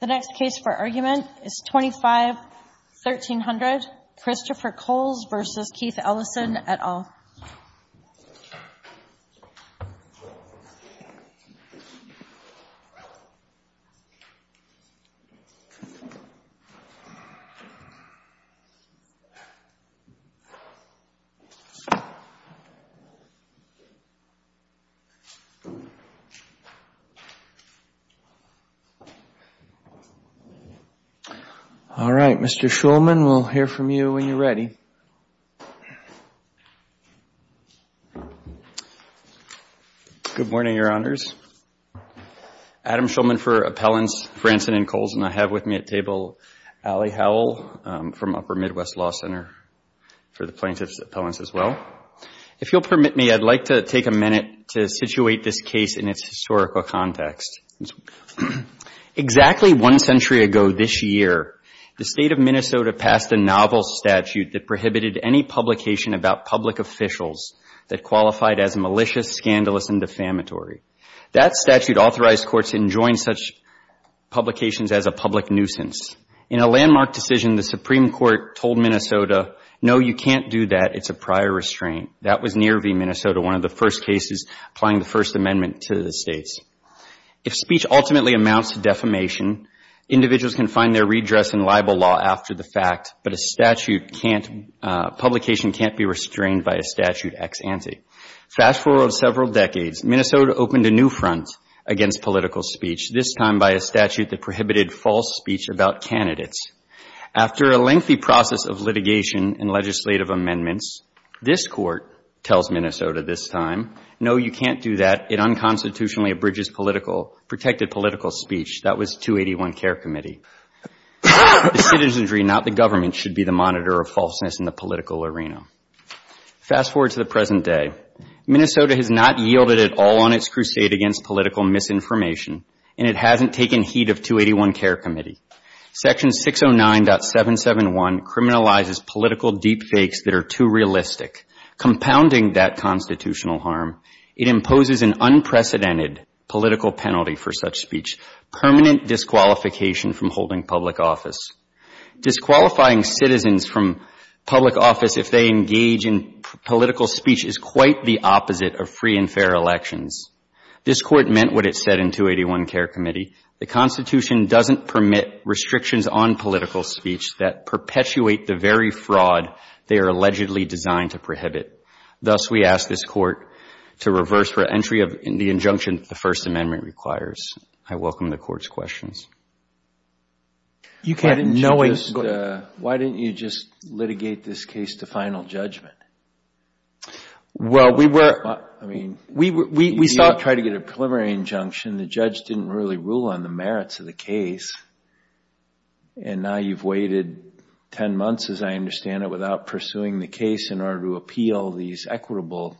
The next case for argument is 25-1300, Christopher Kohls v. Keith Ellison et al. All right, Mr. Shulman, we'll hear from you when you're ready. Good morning, Your Honors. Adam Shulman for appellants, Franson and Kohls, and I have with me at table Allie Howell from Upper Midwest Law Center for the plaintiffs' appellants as well. If you'll permit me, I'd like to take a minute to situate this case in its historical context. Exactly one century ago this year, the State of Minnesota passed a novel statute that prohibited any publication about public officials that qualified as malicious, scandalous, and defamatory. That statute authorized courts to enjoin such publications as a public nuisance. In a landmark decision, the Supreme Court told Minnesota, no, you can't do that, it's a prior restraint. That was near v. Minnesota, one of the first cases applying the First Amendment to the states. If speech ultimately amounts to defamation, individuals can find their redress in libel law after the fact, but a statute can't, publication can't be restrained by a statute ex ante. Fast forward several decades. Minnesota opened a new front against political speech, this time by a statute that prohibited false speech about candidates. After a lengthy process of litigation and legislative amendments, this court tells Minnesota this time, no, you can't do that, it unconstitutionally abridges political, protected political speech. That was 281 Care Committee. The citizenry, not the government, should be the monitor of falseness in the political arena. Fast forward to the present day. Minnesota has not yielded at all on its crusade against political misinformation, and it hasn't taken heed of 281 Care Committee. Section 609.771 criminalizes political deep fakes that are too realistic. Compounding that constitutional harm, it imposes an unprecedented political penalty for such speech, permanent disqualification from holding public office. Disqualifying citizens from public office if they engage in political speech is quite the opposite of free and fair elections. This court meant what it said in 281 Care Committee. The Constitution doesn't permit restrictions on political speech that perpetuate the very fraud they are allegedly designed to prohibit. Thus, we ask this court to reverse for entry of the injunction the First Amendment requires. I welcome the court's questions. Why didn't you just litigate this case to final judgment? Well, we were... I mean, you tried to get a preliminary injunction. The judge didn't really rule on the merits of the case, and now you've waited 10 months, as I understand it, without pursuing the case in order to appeal these equitable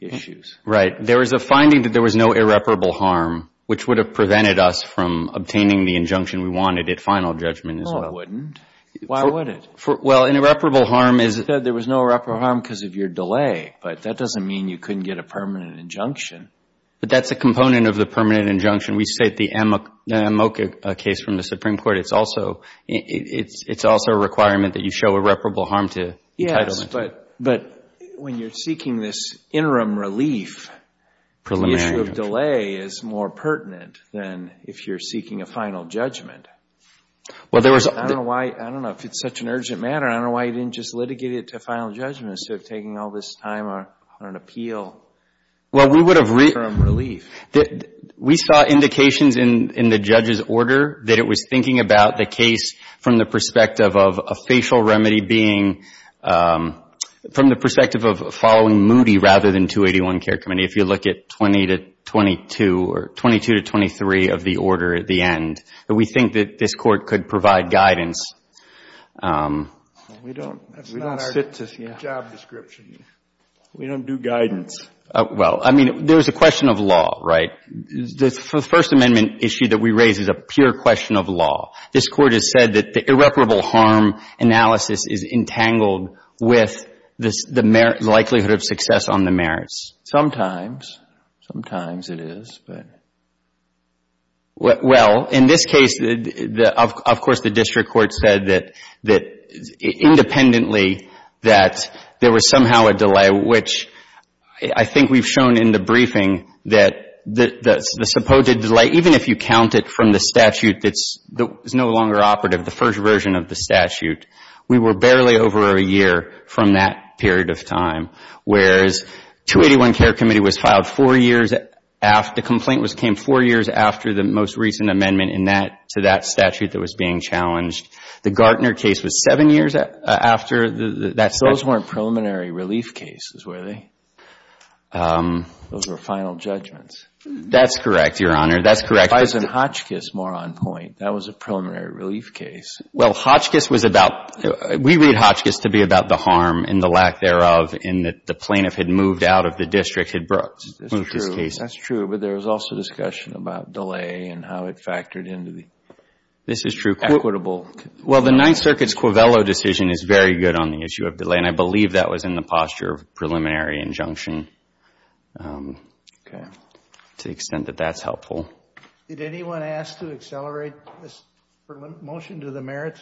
issues. Right. There is a finding that there was no irreparable harm, which would have prevented us from obtaining the injunction we wanted at final judgment as well. Well, it wouldn't. Why would it? Well, an irreparable harm is... You said there was no irreparable harm because of your delay, but that doesn't mean you couldn't get a permanent injunction. But that's a component of the permanent injunction. We state the Amoka case from the Supreme Court. It's also a requirement that you show irreparable harm to entitlement. But when you're seeking this interim relief... Preliminary injunction. ...the issue of delay is more pertinent than if you're seeking a final judgment. Well, there was... I don't know why. I don't know if it's such an urgent matter. I don't know why you didn't just litigate it to final judgment instead of taking all this time on an appeal. Well, we would have... Interim relief. We saw indications in the judge's order that it was thinking about the case from the perspective of a facial remedy being... from the perspective of following Moody rather than 281 Care Committee, if you look at 20 to 22 or 22 to 23 of the order at the end. But we think that this Court could provide guidance. We don't... That's not our job description. We don't do guidance. Well, I mean, there's a question of law, right? The First Amendment issue that we raise is a pure question of law. This Court has said that the irreparable harm analysis is entangled with the likelihood of success on the merits. Sometimes. Sometimes it is, but... Well, in this case, of course, the district court said that independently that there was somehow a delay, which I think we've shown in the briefing that the supposed delay, even if you count it from the statute that's no longer operative, the first version of the statute, we were barely over a year from that period of time, whereas 281 Care Committee was filed four years after... The complaint came four years after the most recent amendment to that statute that was being challenged. The Gartner case was seven years after that statute. Those weren't preliminary relief cases, were they? Those were final judgments. That's correct, Your Honor. That's correct. If I was in Hotchkiss more on point, that was a preliminary relief case. Well, Hotchkiss was about, we read Hotchkiss to be about the harm and the lack thereof in that the plaintiff had moved out of the district, had moved his case. That's true, but there was also discussion about delay and how it factored into the equitable... This is true. Well, the Ninth Circuit's Quivello decision is very good on the issue of delay, and I believe that was in the posture of preliminary injunction to the extent that that's helpful. Did anyone ask to accelerate this motion to the merits?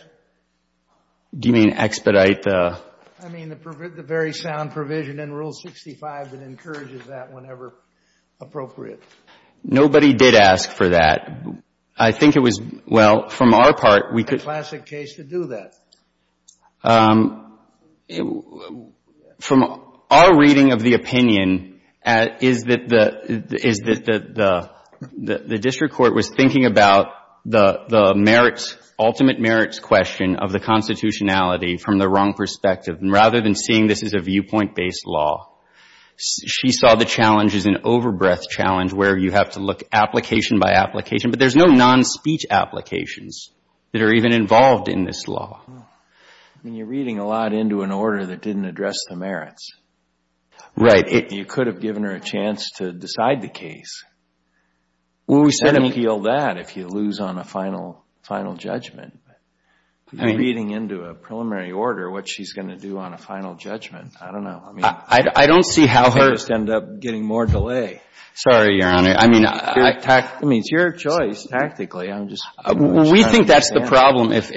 Do you mean expedite the... I mean the very sound provision in Rule 65 that encourages that whenever appropriate. Nobody did ask for that. I think it was, well, from our part, we could... A classic case to do that. From our reading of the opinion is that the district court was thinking about the merits, ultimate merits question of the constitutionality from the wrong perspective, and rather than seeing this as a viewpoint-based law, she saw the challenge as an overbreath challenge where you have to look application by application, but there's no non-speech applications that are even involved in this law. I mean, you're reading a lot into an order that didn't address the merits. Right. You could have given her a chance to decide the case. Well, we said appeal that if you lose on a final judgment. Reading into a preliminary order what she's going to do on a final judgment, I don't know. I don't see how her... You just end up getting more delay. Sorry, Your Honor. I mean, tact... I mean, it's your choice tactically. I'm just... We think that's the problem. If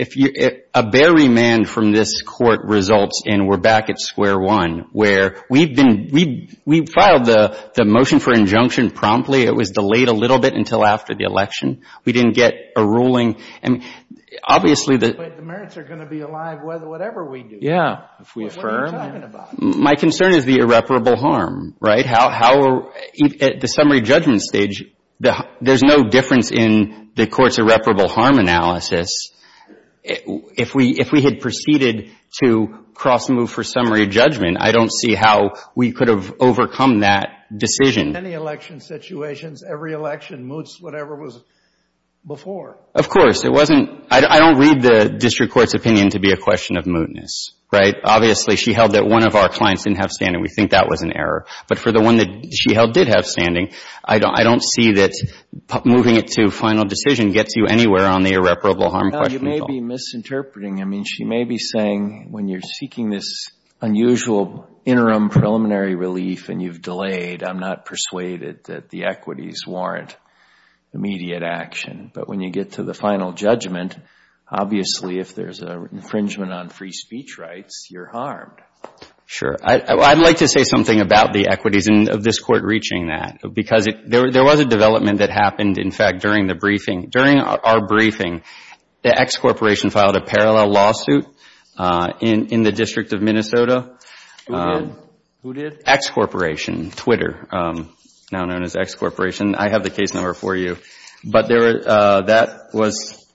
a bare remand from this court results in we're back at square one, where we've been, we filed the motion for injunction promptly. It was delayed a little bit until after the election. We didn't get a ruling. I mean, obviously the... But the merits are going to be alive whatever we do. Yeah. If we affirm. What are you talking about? My concern is the irreparable harm, right? At the summary judgment stage, there's no difference in the court's irreparable harm analysis. If we had proceeded to cross-move for summary judgment, I don't see how we could have overcome that decision. In many election situations, every election moots whatever was before. Of course. It wasn't... I don't read the district court's opinion to be a question of mootness, right? Obviously, she held that one of our clients didn't have standing. We think that was an error. But for the one that she held did have standing, I don't see that moving it to final decision gets you anywhere on the irreparable harm question at all. You may be misinterpreting. I mean, she may be saying when you're seeking this unusual interim preliminary relief and you've delayed, I'm not persuaded that the equities warrant immediate action. But when you get to the final judgment, obviously if there's an infringement on free speech rights, you're harmed. Sure. I'd like to say something about the equities of this court reaching that. Because there was a development that happened, in fact, during the briefing. During our briefing, the X Corporation filed a parallel lawsuit in the District of Minnesota. Who did? X Corporation, Twitter, now known as X Corporation. I have the case number for you. But that was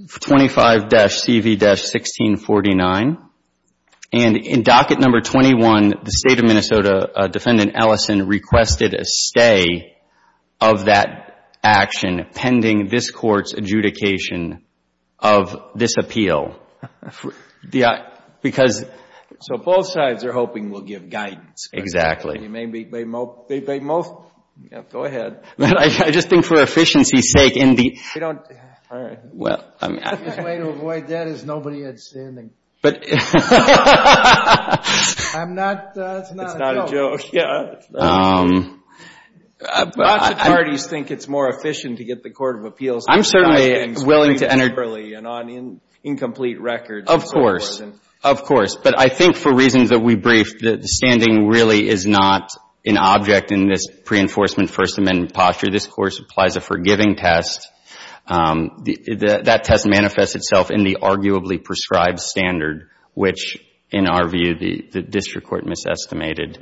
25-CV-1649. And in docket number 21, the State of Minnesota defendant, Ellison, requested a stay of that action pending this court's adjudication of this appeal. So both sides are hoping we'll give guidance. Exactly. Go ahead. I just think for efficiency's sake. His way to avoid that is nobody had standing. I'm not. It's not a joke. It's not a joke, yeah. Lots of parties think it's more efficient to get the court of appeals. I'm certainly willing to enter. And on incomplete records. Of course. Of course. But I think for reasons that we briefed, standing really is not an object in this pre-enforcement First Amendment posture. This, of course, applies a forgiving test. That test manifests itself in the arguably prescribed standard, which in our view the district court misestimated.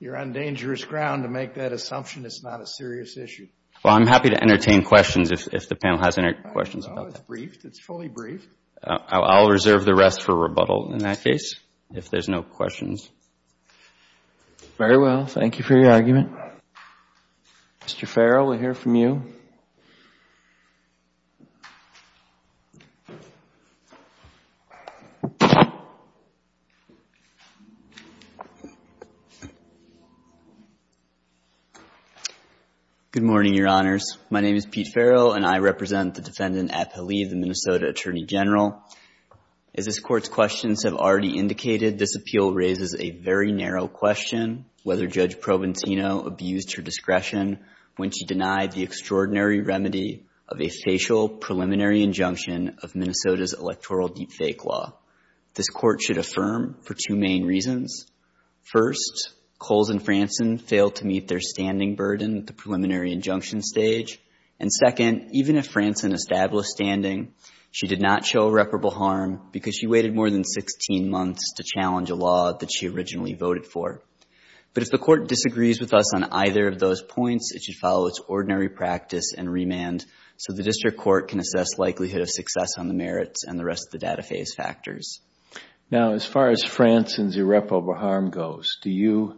You're on dangerous ground to make that assumption it's not a serious issue. Well, I'm happy to entertain questions if the panel has any questions about that. No, it's briefed. It's fully briefed. I'll reserve the rest for rebuttal in that case if there's no questions. Very well. Thank you for your argument. Mr. Farrell, we'll hear from you. Good morning, Your Honors. My name is Pete Farrell, and I represent the Defendant Appali, the Minnesota Attorney General. As this Court's questions have already indicated, this appeal raises a very narrow question, whether Judge Provenzino abused her discretion when she denied the extraordinary remedy of a facial preliminary injunction of Minnesota's electoral deepfake law. This Court should affirm for two main reasons. First, Coles and Franson failed to meet their standing burden at the preliminary injunction stage. And second, even if Franson established standing, she did not show reparable harm because she waited more than 16 months to challenge a law that she originally voted for. But if the Court disagrees with us on either of those points, it should follow its ordinary practice and remand so the District Court can assess likelihood of success on the merits and the rest of the data phase factors. Now, as far as Franson's irreparable harm goes, do you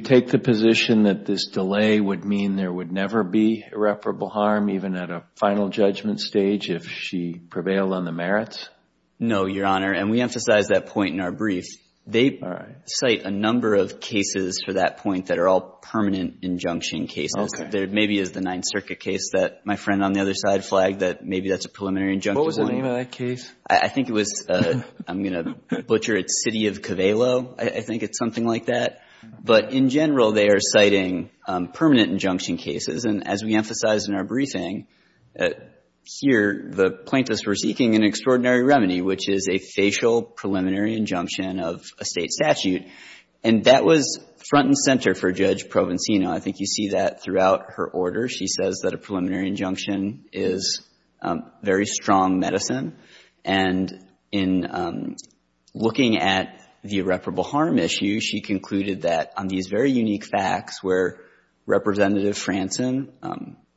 take the position that this delay would mean there would never be irreparable harm, even at a final judgment stage, if she prevailed on the merits? No, Your Honor, and we emphasize that point in our brief. They cite a number of cases for that point that are all permanent injunction cases. There maybe is the Ninth Circuit case that my friend on the other side flagged that maybe that's a preliminary injunction. What was the name of that case? I think it was, I'm going to butcher it, City of Cavallo. I think it's something like that. But in general, they are citing permanent injunction cases. And as we emphasize in our briefing, here the plaintiffs were seeking an extraordinary remedy, which is a facial preliminary injunction of a State statute. And that was front and center for Judge Provenzino. I think you see that throughout her order. She says that a preliminary injunction is very strong medicine. And in looking at the irreparable harm issue, she concluded that on these very unique facts, where Representative Franson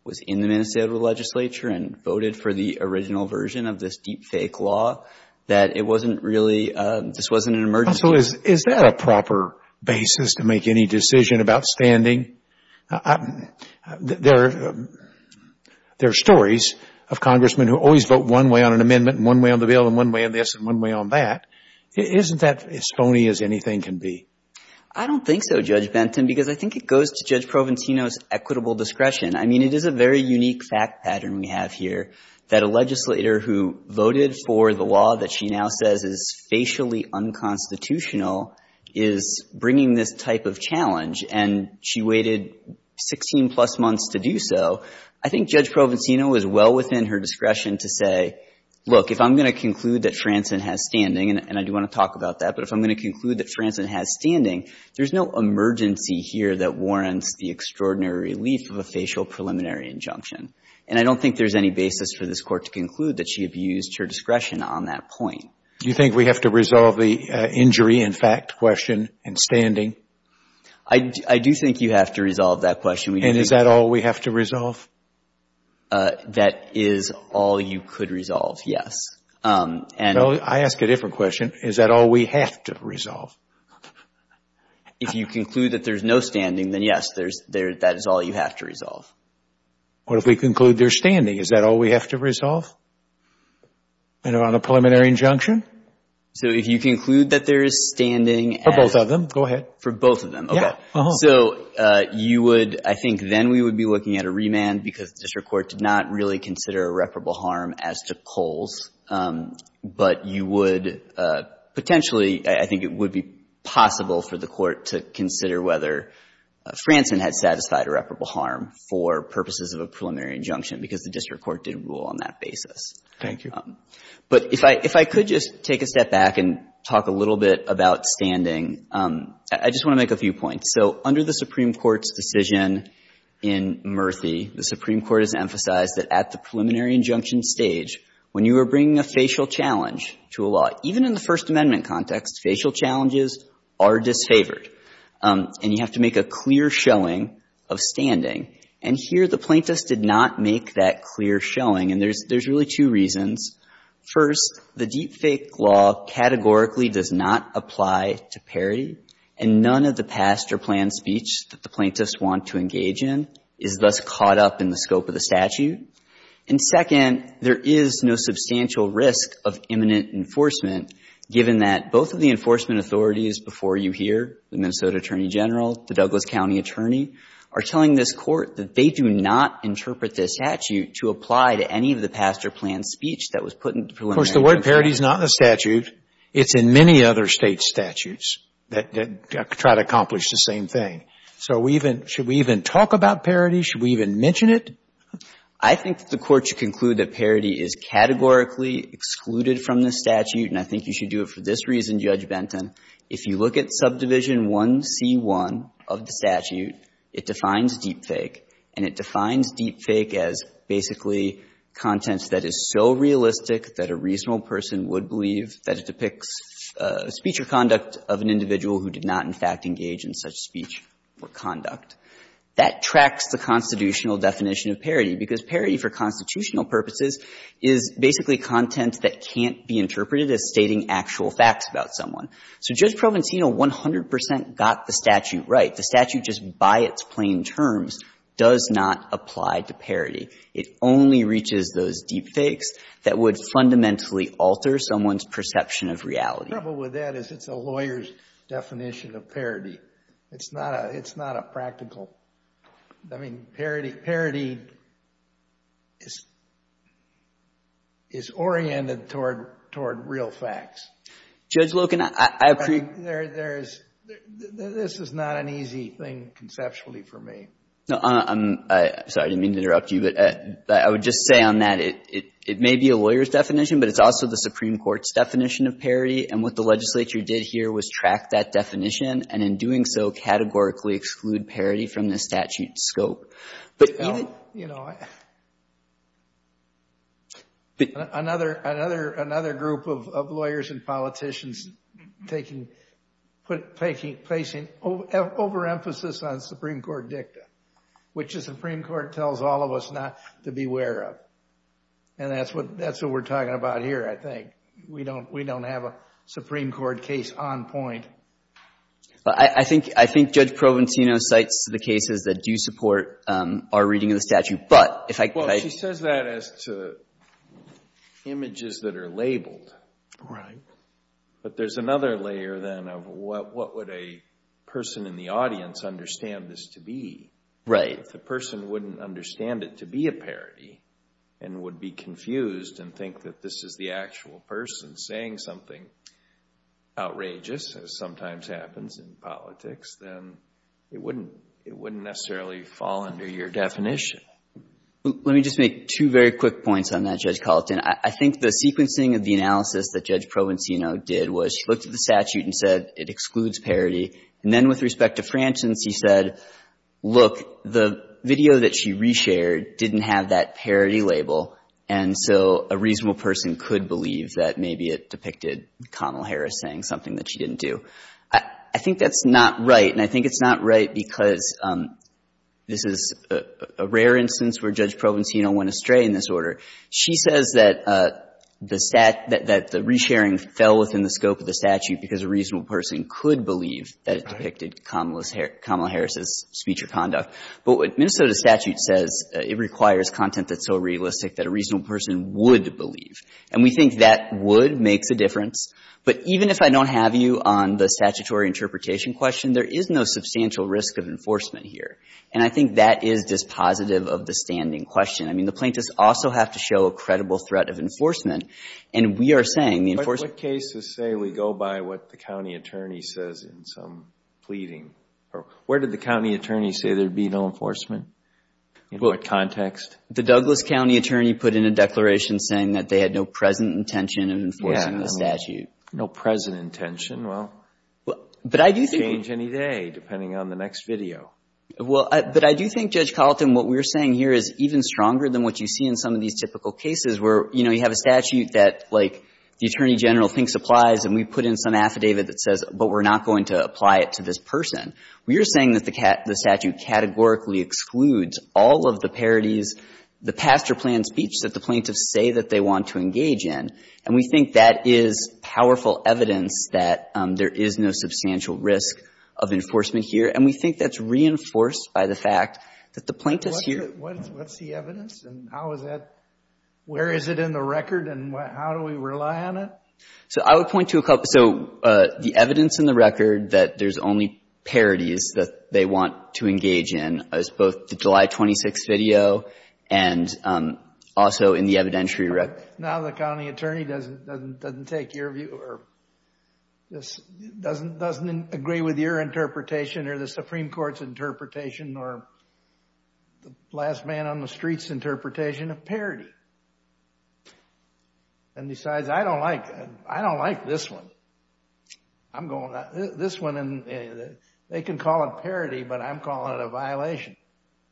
was in the Minnesota legislature and voted for the original version of this deepfake law, that it wasn't really, this wasn't an emergency. Counsel, is that a proper basis to make any decision about standing? There are stories of congressmen who always vote one way on an amendment and one way on the bill and one way on this and one way on that. Isn't that as phony as anything can be? I don't think so, Judge Benton, because I think it goes to Judge Provenzino's equitable discretion. I mean, it is a very unique fact pattern we have here, that a legislator who voted for the law that she now says is facially unconstitutional is bringing this type of challenge. And she waited 16-plus months to do so. I think Judge Provenzino is well within her discretion to say, look, if I'm going to conclude that Franson has standing, and I do want to talk about that, but if I'm going to conclude that Franson has standing, there's no emergency here that warrants the extraordinary relief of a facial preliminary injunction. And I don't think there's any basis for this Court to conclude that she abused her discretion on that point. Do you think we have to resolve the injury in fact question and standing? I do think you have to resolve that question. And is that all we have to resolve? That is all you could resolve, yes. Well, I ask a different question. Is that all we have to resolve? If you conclude that there's no standing, then yes, that is all you have to resolve. What if we conclude there's standing? Is that all we have to resolve? And on a preliminary injunction? So if you conclude that there is standing. For both of them, go ahead. For both of them, okay. So you would, I think then we would be looking at a remand because the district court did not really consider irreparable harm as to Coles. But you would potentially, I think it would be possible for the court to consider whether Franson had satisfied irreparable harm for purposes of a preliminary injunction because the district court did rule on that basis. Thank you. But if I could just take a step back and talk a little bit about standing. I just want to make a few points. So under the Supreme Court's decision in Murphy, the Supreme Court has emphasized that at the preliminary injunction stage, when you are bringing a facial challenge to a law, even in the First Amendment context, facial challenges are disfavored. And you have to make a clear showing of standing. And here the plaintiffs did not make that clear showing. And there's really two reasons. First, the deepfake law categorically does not apply to parity. And none of the past or planned speech that the plaintiffs want to engage in is thus caught up in the scope of the statute. And second, there is no substantial risk of imminent enforcement, given that both of the enforcement authorities before you here, the Minnesota Attorney General, the Douglas County Attorney, are telling this Court that they do not interpret this statute to apply to any of the past or planned speech that was put in the preliminary injunction. Of course, the word parity is not in the statute. It's in many other State statutes that try to accomplish the same thing. So should we even talk about parity? Should we even mention it? I think that the Court should conclude that parity is categorically excluded from the statute. And I think you should do it for this reason, Judge Benton. If you look at subdivision 1C1 of the statute, it defines deepfake. And it defines deepfake as basically content that is so realistic that a reasonable person would believe that it depicts speech or conduct of an individual who did not in fact engage in such speech or conduct. That tracks the constitutional definition of parity, because parity for constitutional purposes is basically content that can't be interpreted as stating actual facts about someone. So Judge Provenzino 100 percent got the statute right. The statute just by its plain terms does not apply to parity. It only reaches those deepfakes that would fundamentally alter someone's perception of reality. The trouble with that is it's a lawyer's definition of parity. It's not a practical. I mean, parity is oriented toward real facts. Judge Loken, I agree. This is not an easy thing conceptually for me. No, I'm sorry. I didn't mean to interrupt you. But I would just say on that it may be a lawyer's definition, but it's also the Supreme Court's definition of parity. And what the legislature did here was track that definition and in doing so categorically exclude parity from the statute's scope. You know, another group of lawyers and politicians placing overemphasis on Supreme Court dicta, which the Supreme Court tells all of us not to be aware of. And that's what we're talking about here, I think. We don't have a Supreme Court case on point. I think Judge Provenzino cites the cases that do support our reading of the statute. Well, she says that as to images that are labeled. Right. But there's another layer then of what would a person in the audience understand this to be. Right. If the person wouldn't understand it to be a parity and would be confused and think that this is the actual person saying something outrageous, as sometimes happens in politics, then it wouldn't necessarily fall under your definition. Let me just make two very quick points on that, Judge Colleton. I think the sequencing of the analysis that Judge Provenzino did was she looked at the statute and said it excludes parity. And then with respect to Francis, he said, look, the video that she re-shared didn't have that parity label. And so a reasonable person could believe that maybe it depicted Kamala Harris saying something that she didn't do. I think that's not right. And I think it's not right because this is a rare instance where Judge Provenzino went astray in this order. She says that the re-sharing fell within the scope of the statute because a reasonable person could believe that it depicted Kamala Harris' speech or conduct. But what Minnesota statute says, it requires content that's so realistic that a reasonable person would believe. And we think that would makes a difference. But even if I don't have you on the statutory interpretation question, there is no substantial risk of enforcement here. And I think that is dispositive of the standing question. I mean, the plaintiffs also have to show a credible threat of enforcement. And we are saying the enforcement — What cases say we go by what the county attorney says in some pleading? Where did the county attorney say there would be no enforcement? In what context? The Douglas County attorney put in a declaration saying that they had no present intention of enforcing the statute. No present intention. Well, it could change any day depending on the next video. Well, but I do think, Judge Colleton, what we are saying here is even stronger than what you see in some of these typical cases where, you know, you have a statute that, like, the Attorney General thinks applies and we put in some affidavit that says, but we're not going to apply it to this person. We are saying that the statute categorically excludes all of the parodies, the past or planned speech that the plaintiffs say that they want to engage in. And we think that is powerful evidence that there is no substantial risk of enforcement here. And we think that's reinforced by the fact that the plaintiffs here — What's the evidence? And how is that — where is it in the record? And how do we rely on it? So I would point to a couple. So the evidence in the record that there's only parodies that they want to engage in is both the July 26th video and also in the evidentiary record. Now the county attorney doesn't take your view or doesn't agree with your interpretation or the Supreme Court's interpretation or the last man on the street's interpretation of parody. And besides, I don't like — I don't like this one. I'm going — this one, they can call it parody, but I'm calling it a violation.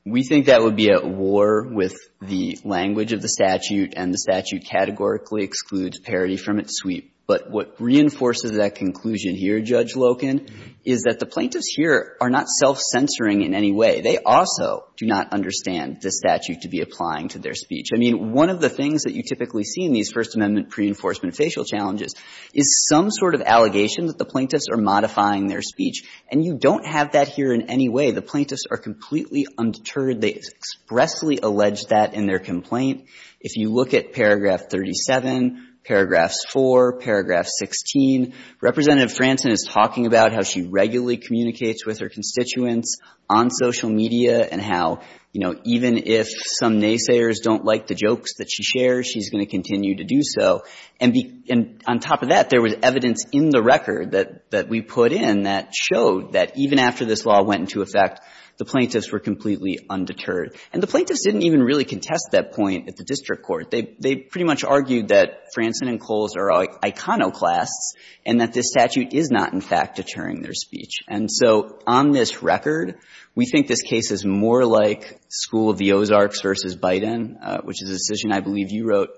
We think that would be at war with the language of the statute, and the statute categorically excludes parody from its sweep. But what reinforces that conclusion here, Judge Loken, is that the plaintiffs here are not self-censoring in any way. They also do not understand the statute to be applying to their speech. I mean, one of the things that you typically see in these First Amendment pre-enforcement facial challenges is some sort of allegation that the plaintiffs are modifying their speech. And you don't have that here in any way. The plaintiffs are completely undeterred. They expressly allege that in their complaint. If you look at paragraph 37, paragraphs 4, paragraph 16, Representative Franson is talking about how she regularly communicates with her constituents on social media and how, you know, even if some naysayers don't like the jokes that she shares, she's going to continue to do so. And on top of that, there was evidence in the record that we put in that showed that even after this law went into effect, the plaintiffs were completely undeterred. And the plaintiffs didn't even really contest that point at the district court. They pretty much argued that Franson and Coles are iconoclasts and that this statute is not, in fact, deterring their speech. And so on this record, we think this case is more like School of the Ozarks versus Biden, which is a decision I believe you wrote,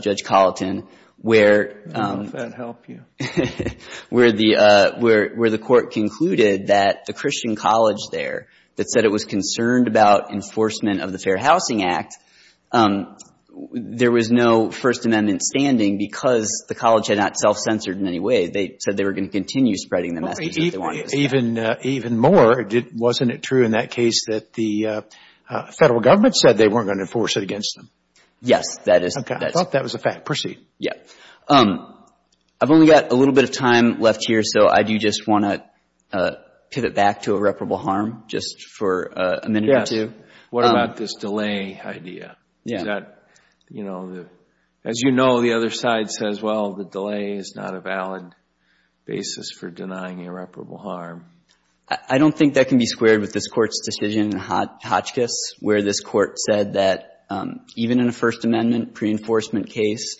Judge Colleton, where the court concluded that the Christian college there that said it was concerned about enforcement of the Fair Housing Act, there was no First Amendment standing because the college had not self-censored in any way. They said they were going to continue spreading the message that they wanted to spread. Even more, wasn't it true in that case that the federal government said they weren't going to enforce it against them? Yes. I thought that was a fact. Yes. I've only got a little bit of time left here, so I do just want to pivot back to irreparable harm just for a minute or two. Yes. What about this delay idea? As you know, the other side says, well, the delay is not a valid basis for denying irreparable harm. I don't think that can be squared with this Court's decision in Hotchkiss, where this Court said that even in a First Amendment pre-enforcement case,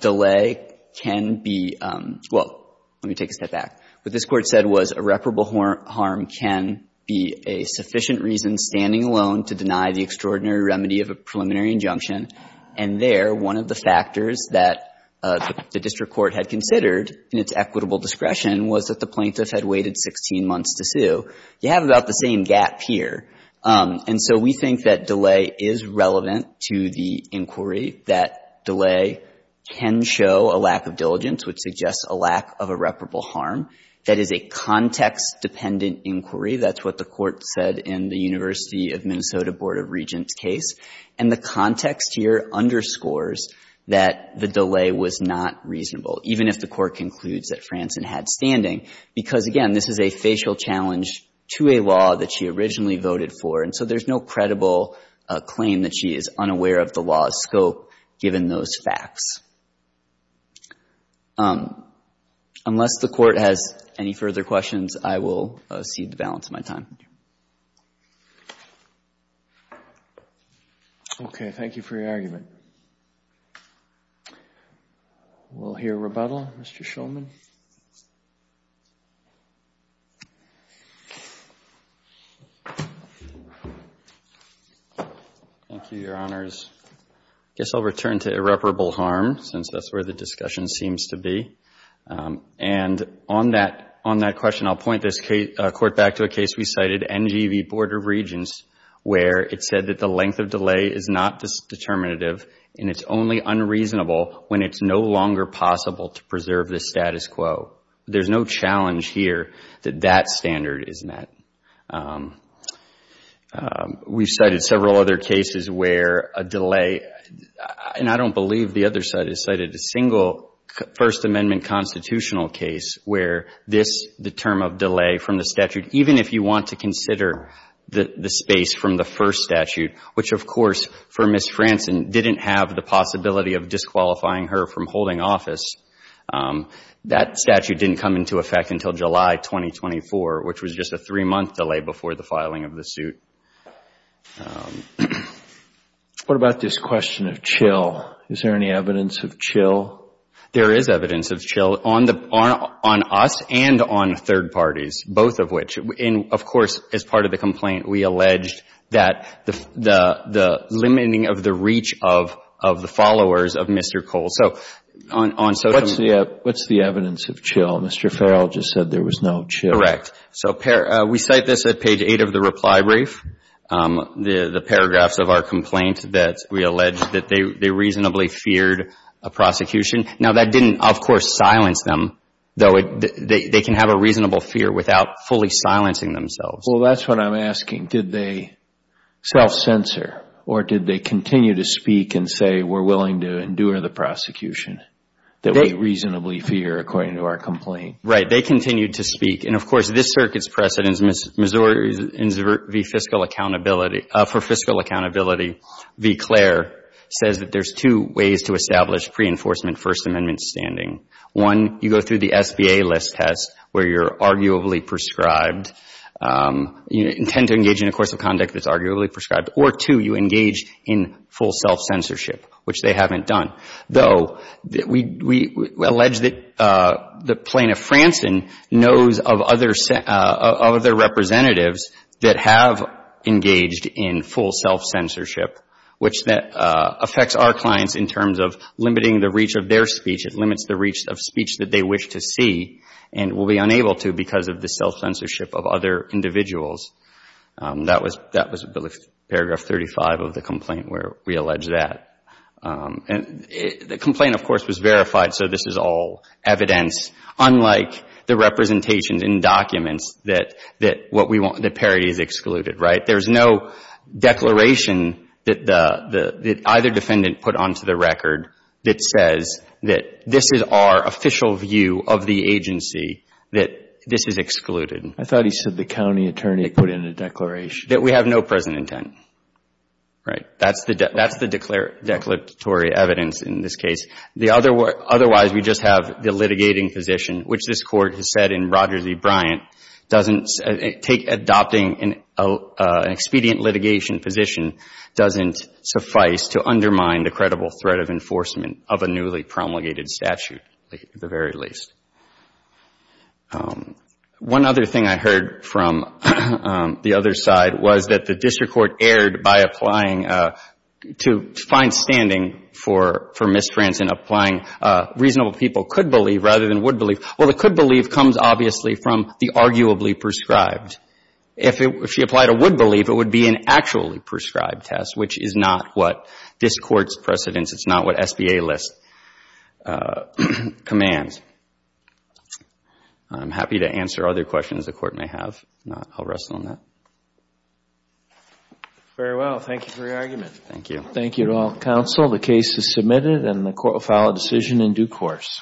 delay can be — well, let me take a step back. What this Court said was irreparable harm can be a sufficient reason standing alone to deny the extraordinary remedy of a preliminary injunction. And there, one of the factors that the district court had considered in its equitable discretion was that the plaintiff had waited 16 months to sue. You have about the same gap here. And so we think that delay is relevant to the inquiry, that delay can show a lack of diligence, which suggests a lack of irreparable harm. That is a context-dependent inquiry. That's what the Court said in the University of Minnesota Board of Regents case. And the context here underscores that the delay was not reasonable, even if the Court concludes that Franzen had standing, because, again, this is a facial challenge to a law that she originally voted for. And so there's no credible claim that she is unaware of the law's scope, given those facts. Unless the Court has any further questions, I will cede the balance of my time. Okay. Thank you for your argument. We'll hear rebuttal. Mr. Shulman. Thank you, Your Honors. I guess I'll return to irreparable harm, since that's where the discussion seems to be. And on that question, I'll point this Court back to a case we cited, NGEB Board of Regents, where it said that the length of delay is not determinative, and it's only unreasonable when it's no longer possible to preserve the status quo. There's no challenge here that that standard is met. We've cited several other cases where a delay, and I don't believe the other side has cited a single First Amendment constitutional case where this, the term of delay from the statute, even if you want to consider the space from the first statute, which, of course, for Ms. Franzen, didn't have the possibility of disqualifying her from holding office, that statute didn't come into effect until July 2024, which was just a three-month delay before the filing of the suit. What about this question of chill? Is there any evidence of chill? There is evidence of chill on us and on third parties, both of which. And, of course, as part of the complaint, we alleged that the limiting of the reach of the followers of Mr. Cole. So on some of the What's the evidence of chill? Mr. Farrell just said there was no chill. So we cite this at page 8 of the reply brief, the paragraphs of our complaint that we allege that they reasonably feared a prosecution. Now, that didn't, of course, silence them, though. They can have a reasonable fear without fully silencing themselves. Well, that's what I'm asking. Did they self-censor or did they continue to speak and say, we're willing to endure the prosecution that we reasonably fear, according to our complaint? Right. They continued to speak. And, of course, this circuit's precedent for fiscal accountability v. Claire says that there's two ways to establish pre-enforcement First Amendment standing. One, you go through the SBA list test where you're arguably prescribed. You intend to engage in a course of conduct that's arguably prescribed. Or, two, you engage in full self-censorship, which they haven't done, though we allege that Plano-Fransen knows of other representatives that have engaged in full self-censorship, which affects our clients in terms of limiting the reach of their speech. It limits the reach of speech that they wish to see and will be unable to because of the self-censorship of other individuals. That was paragraph 35 of the complaint where we allege that. And the complaint, of course, was verified, so this is all evidence, unlike the representations in documents that what we want, that parity is excluded, right? There's no declaration that either defendant put onto the record that says that this is our official view of the agency, that this is excluded. I thought he said the county attorney put in a declaration. That we have no present intent, right? That's the declaratory evidence in this case. Otherwise, we just have the litigating position, which this Court has said in Rogers v. Bryant, adopting an expedient litigation position doesn't suffice to undermine the credible threat of enforcement of a newly promulgated statute, at the very least. One other thing I heard from the other side was that the district court erred by applying to find standing for mistrans in applying reasonable people could believe rather than would believe. Well, the could believe comes, obviously, from the arguably prescribed. If she applied a would believe, it would be an actually prescribed test, which is not what this Court's precedence, it's not what SBA lists, commands. I'm happy to answer other questions the Court may have. If not, I'll rest on that. Very well. Thank you for your argument. Thank you. Thank you to all counsel. The case is submitted and the Court will file a decision in due course.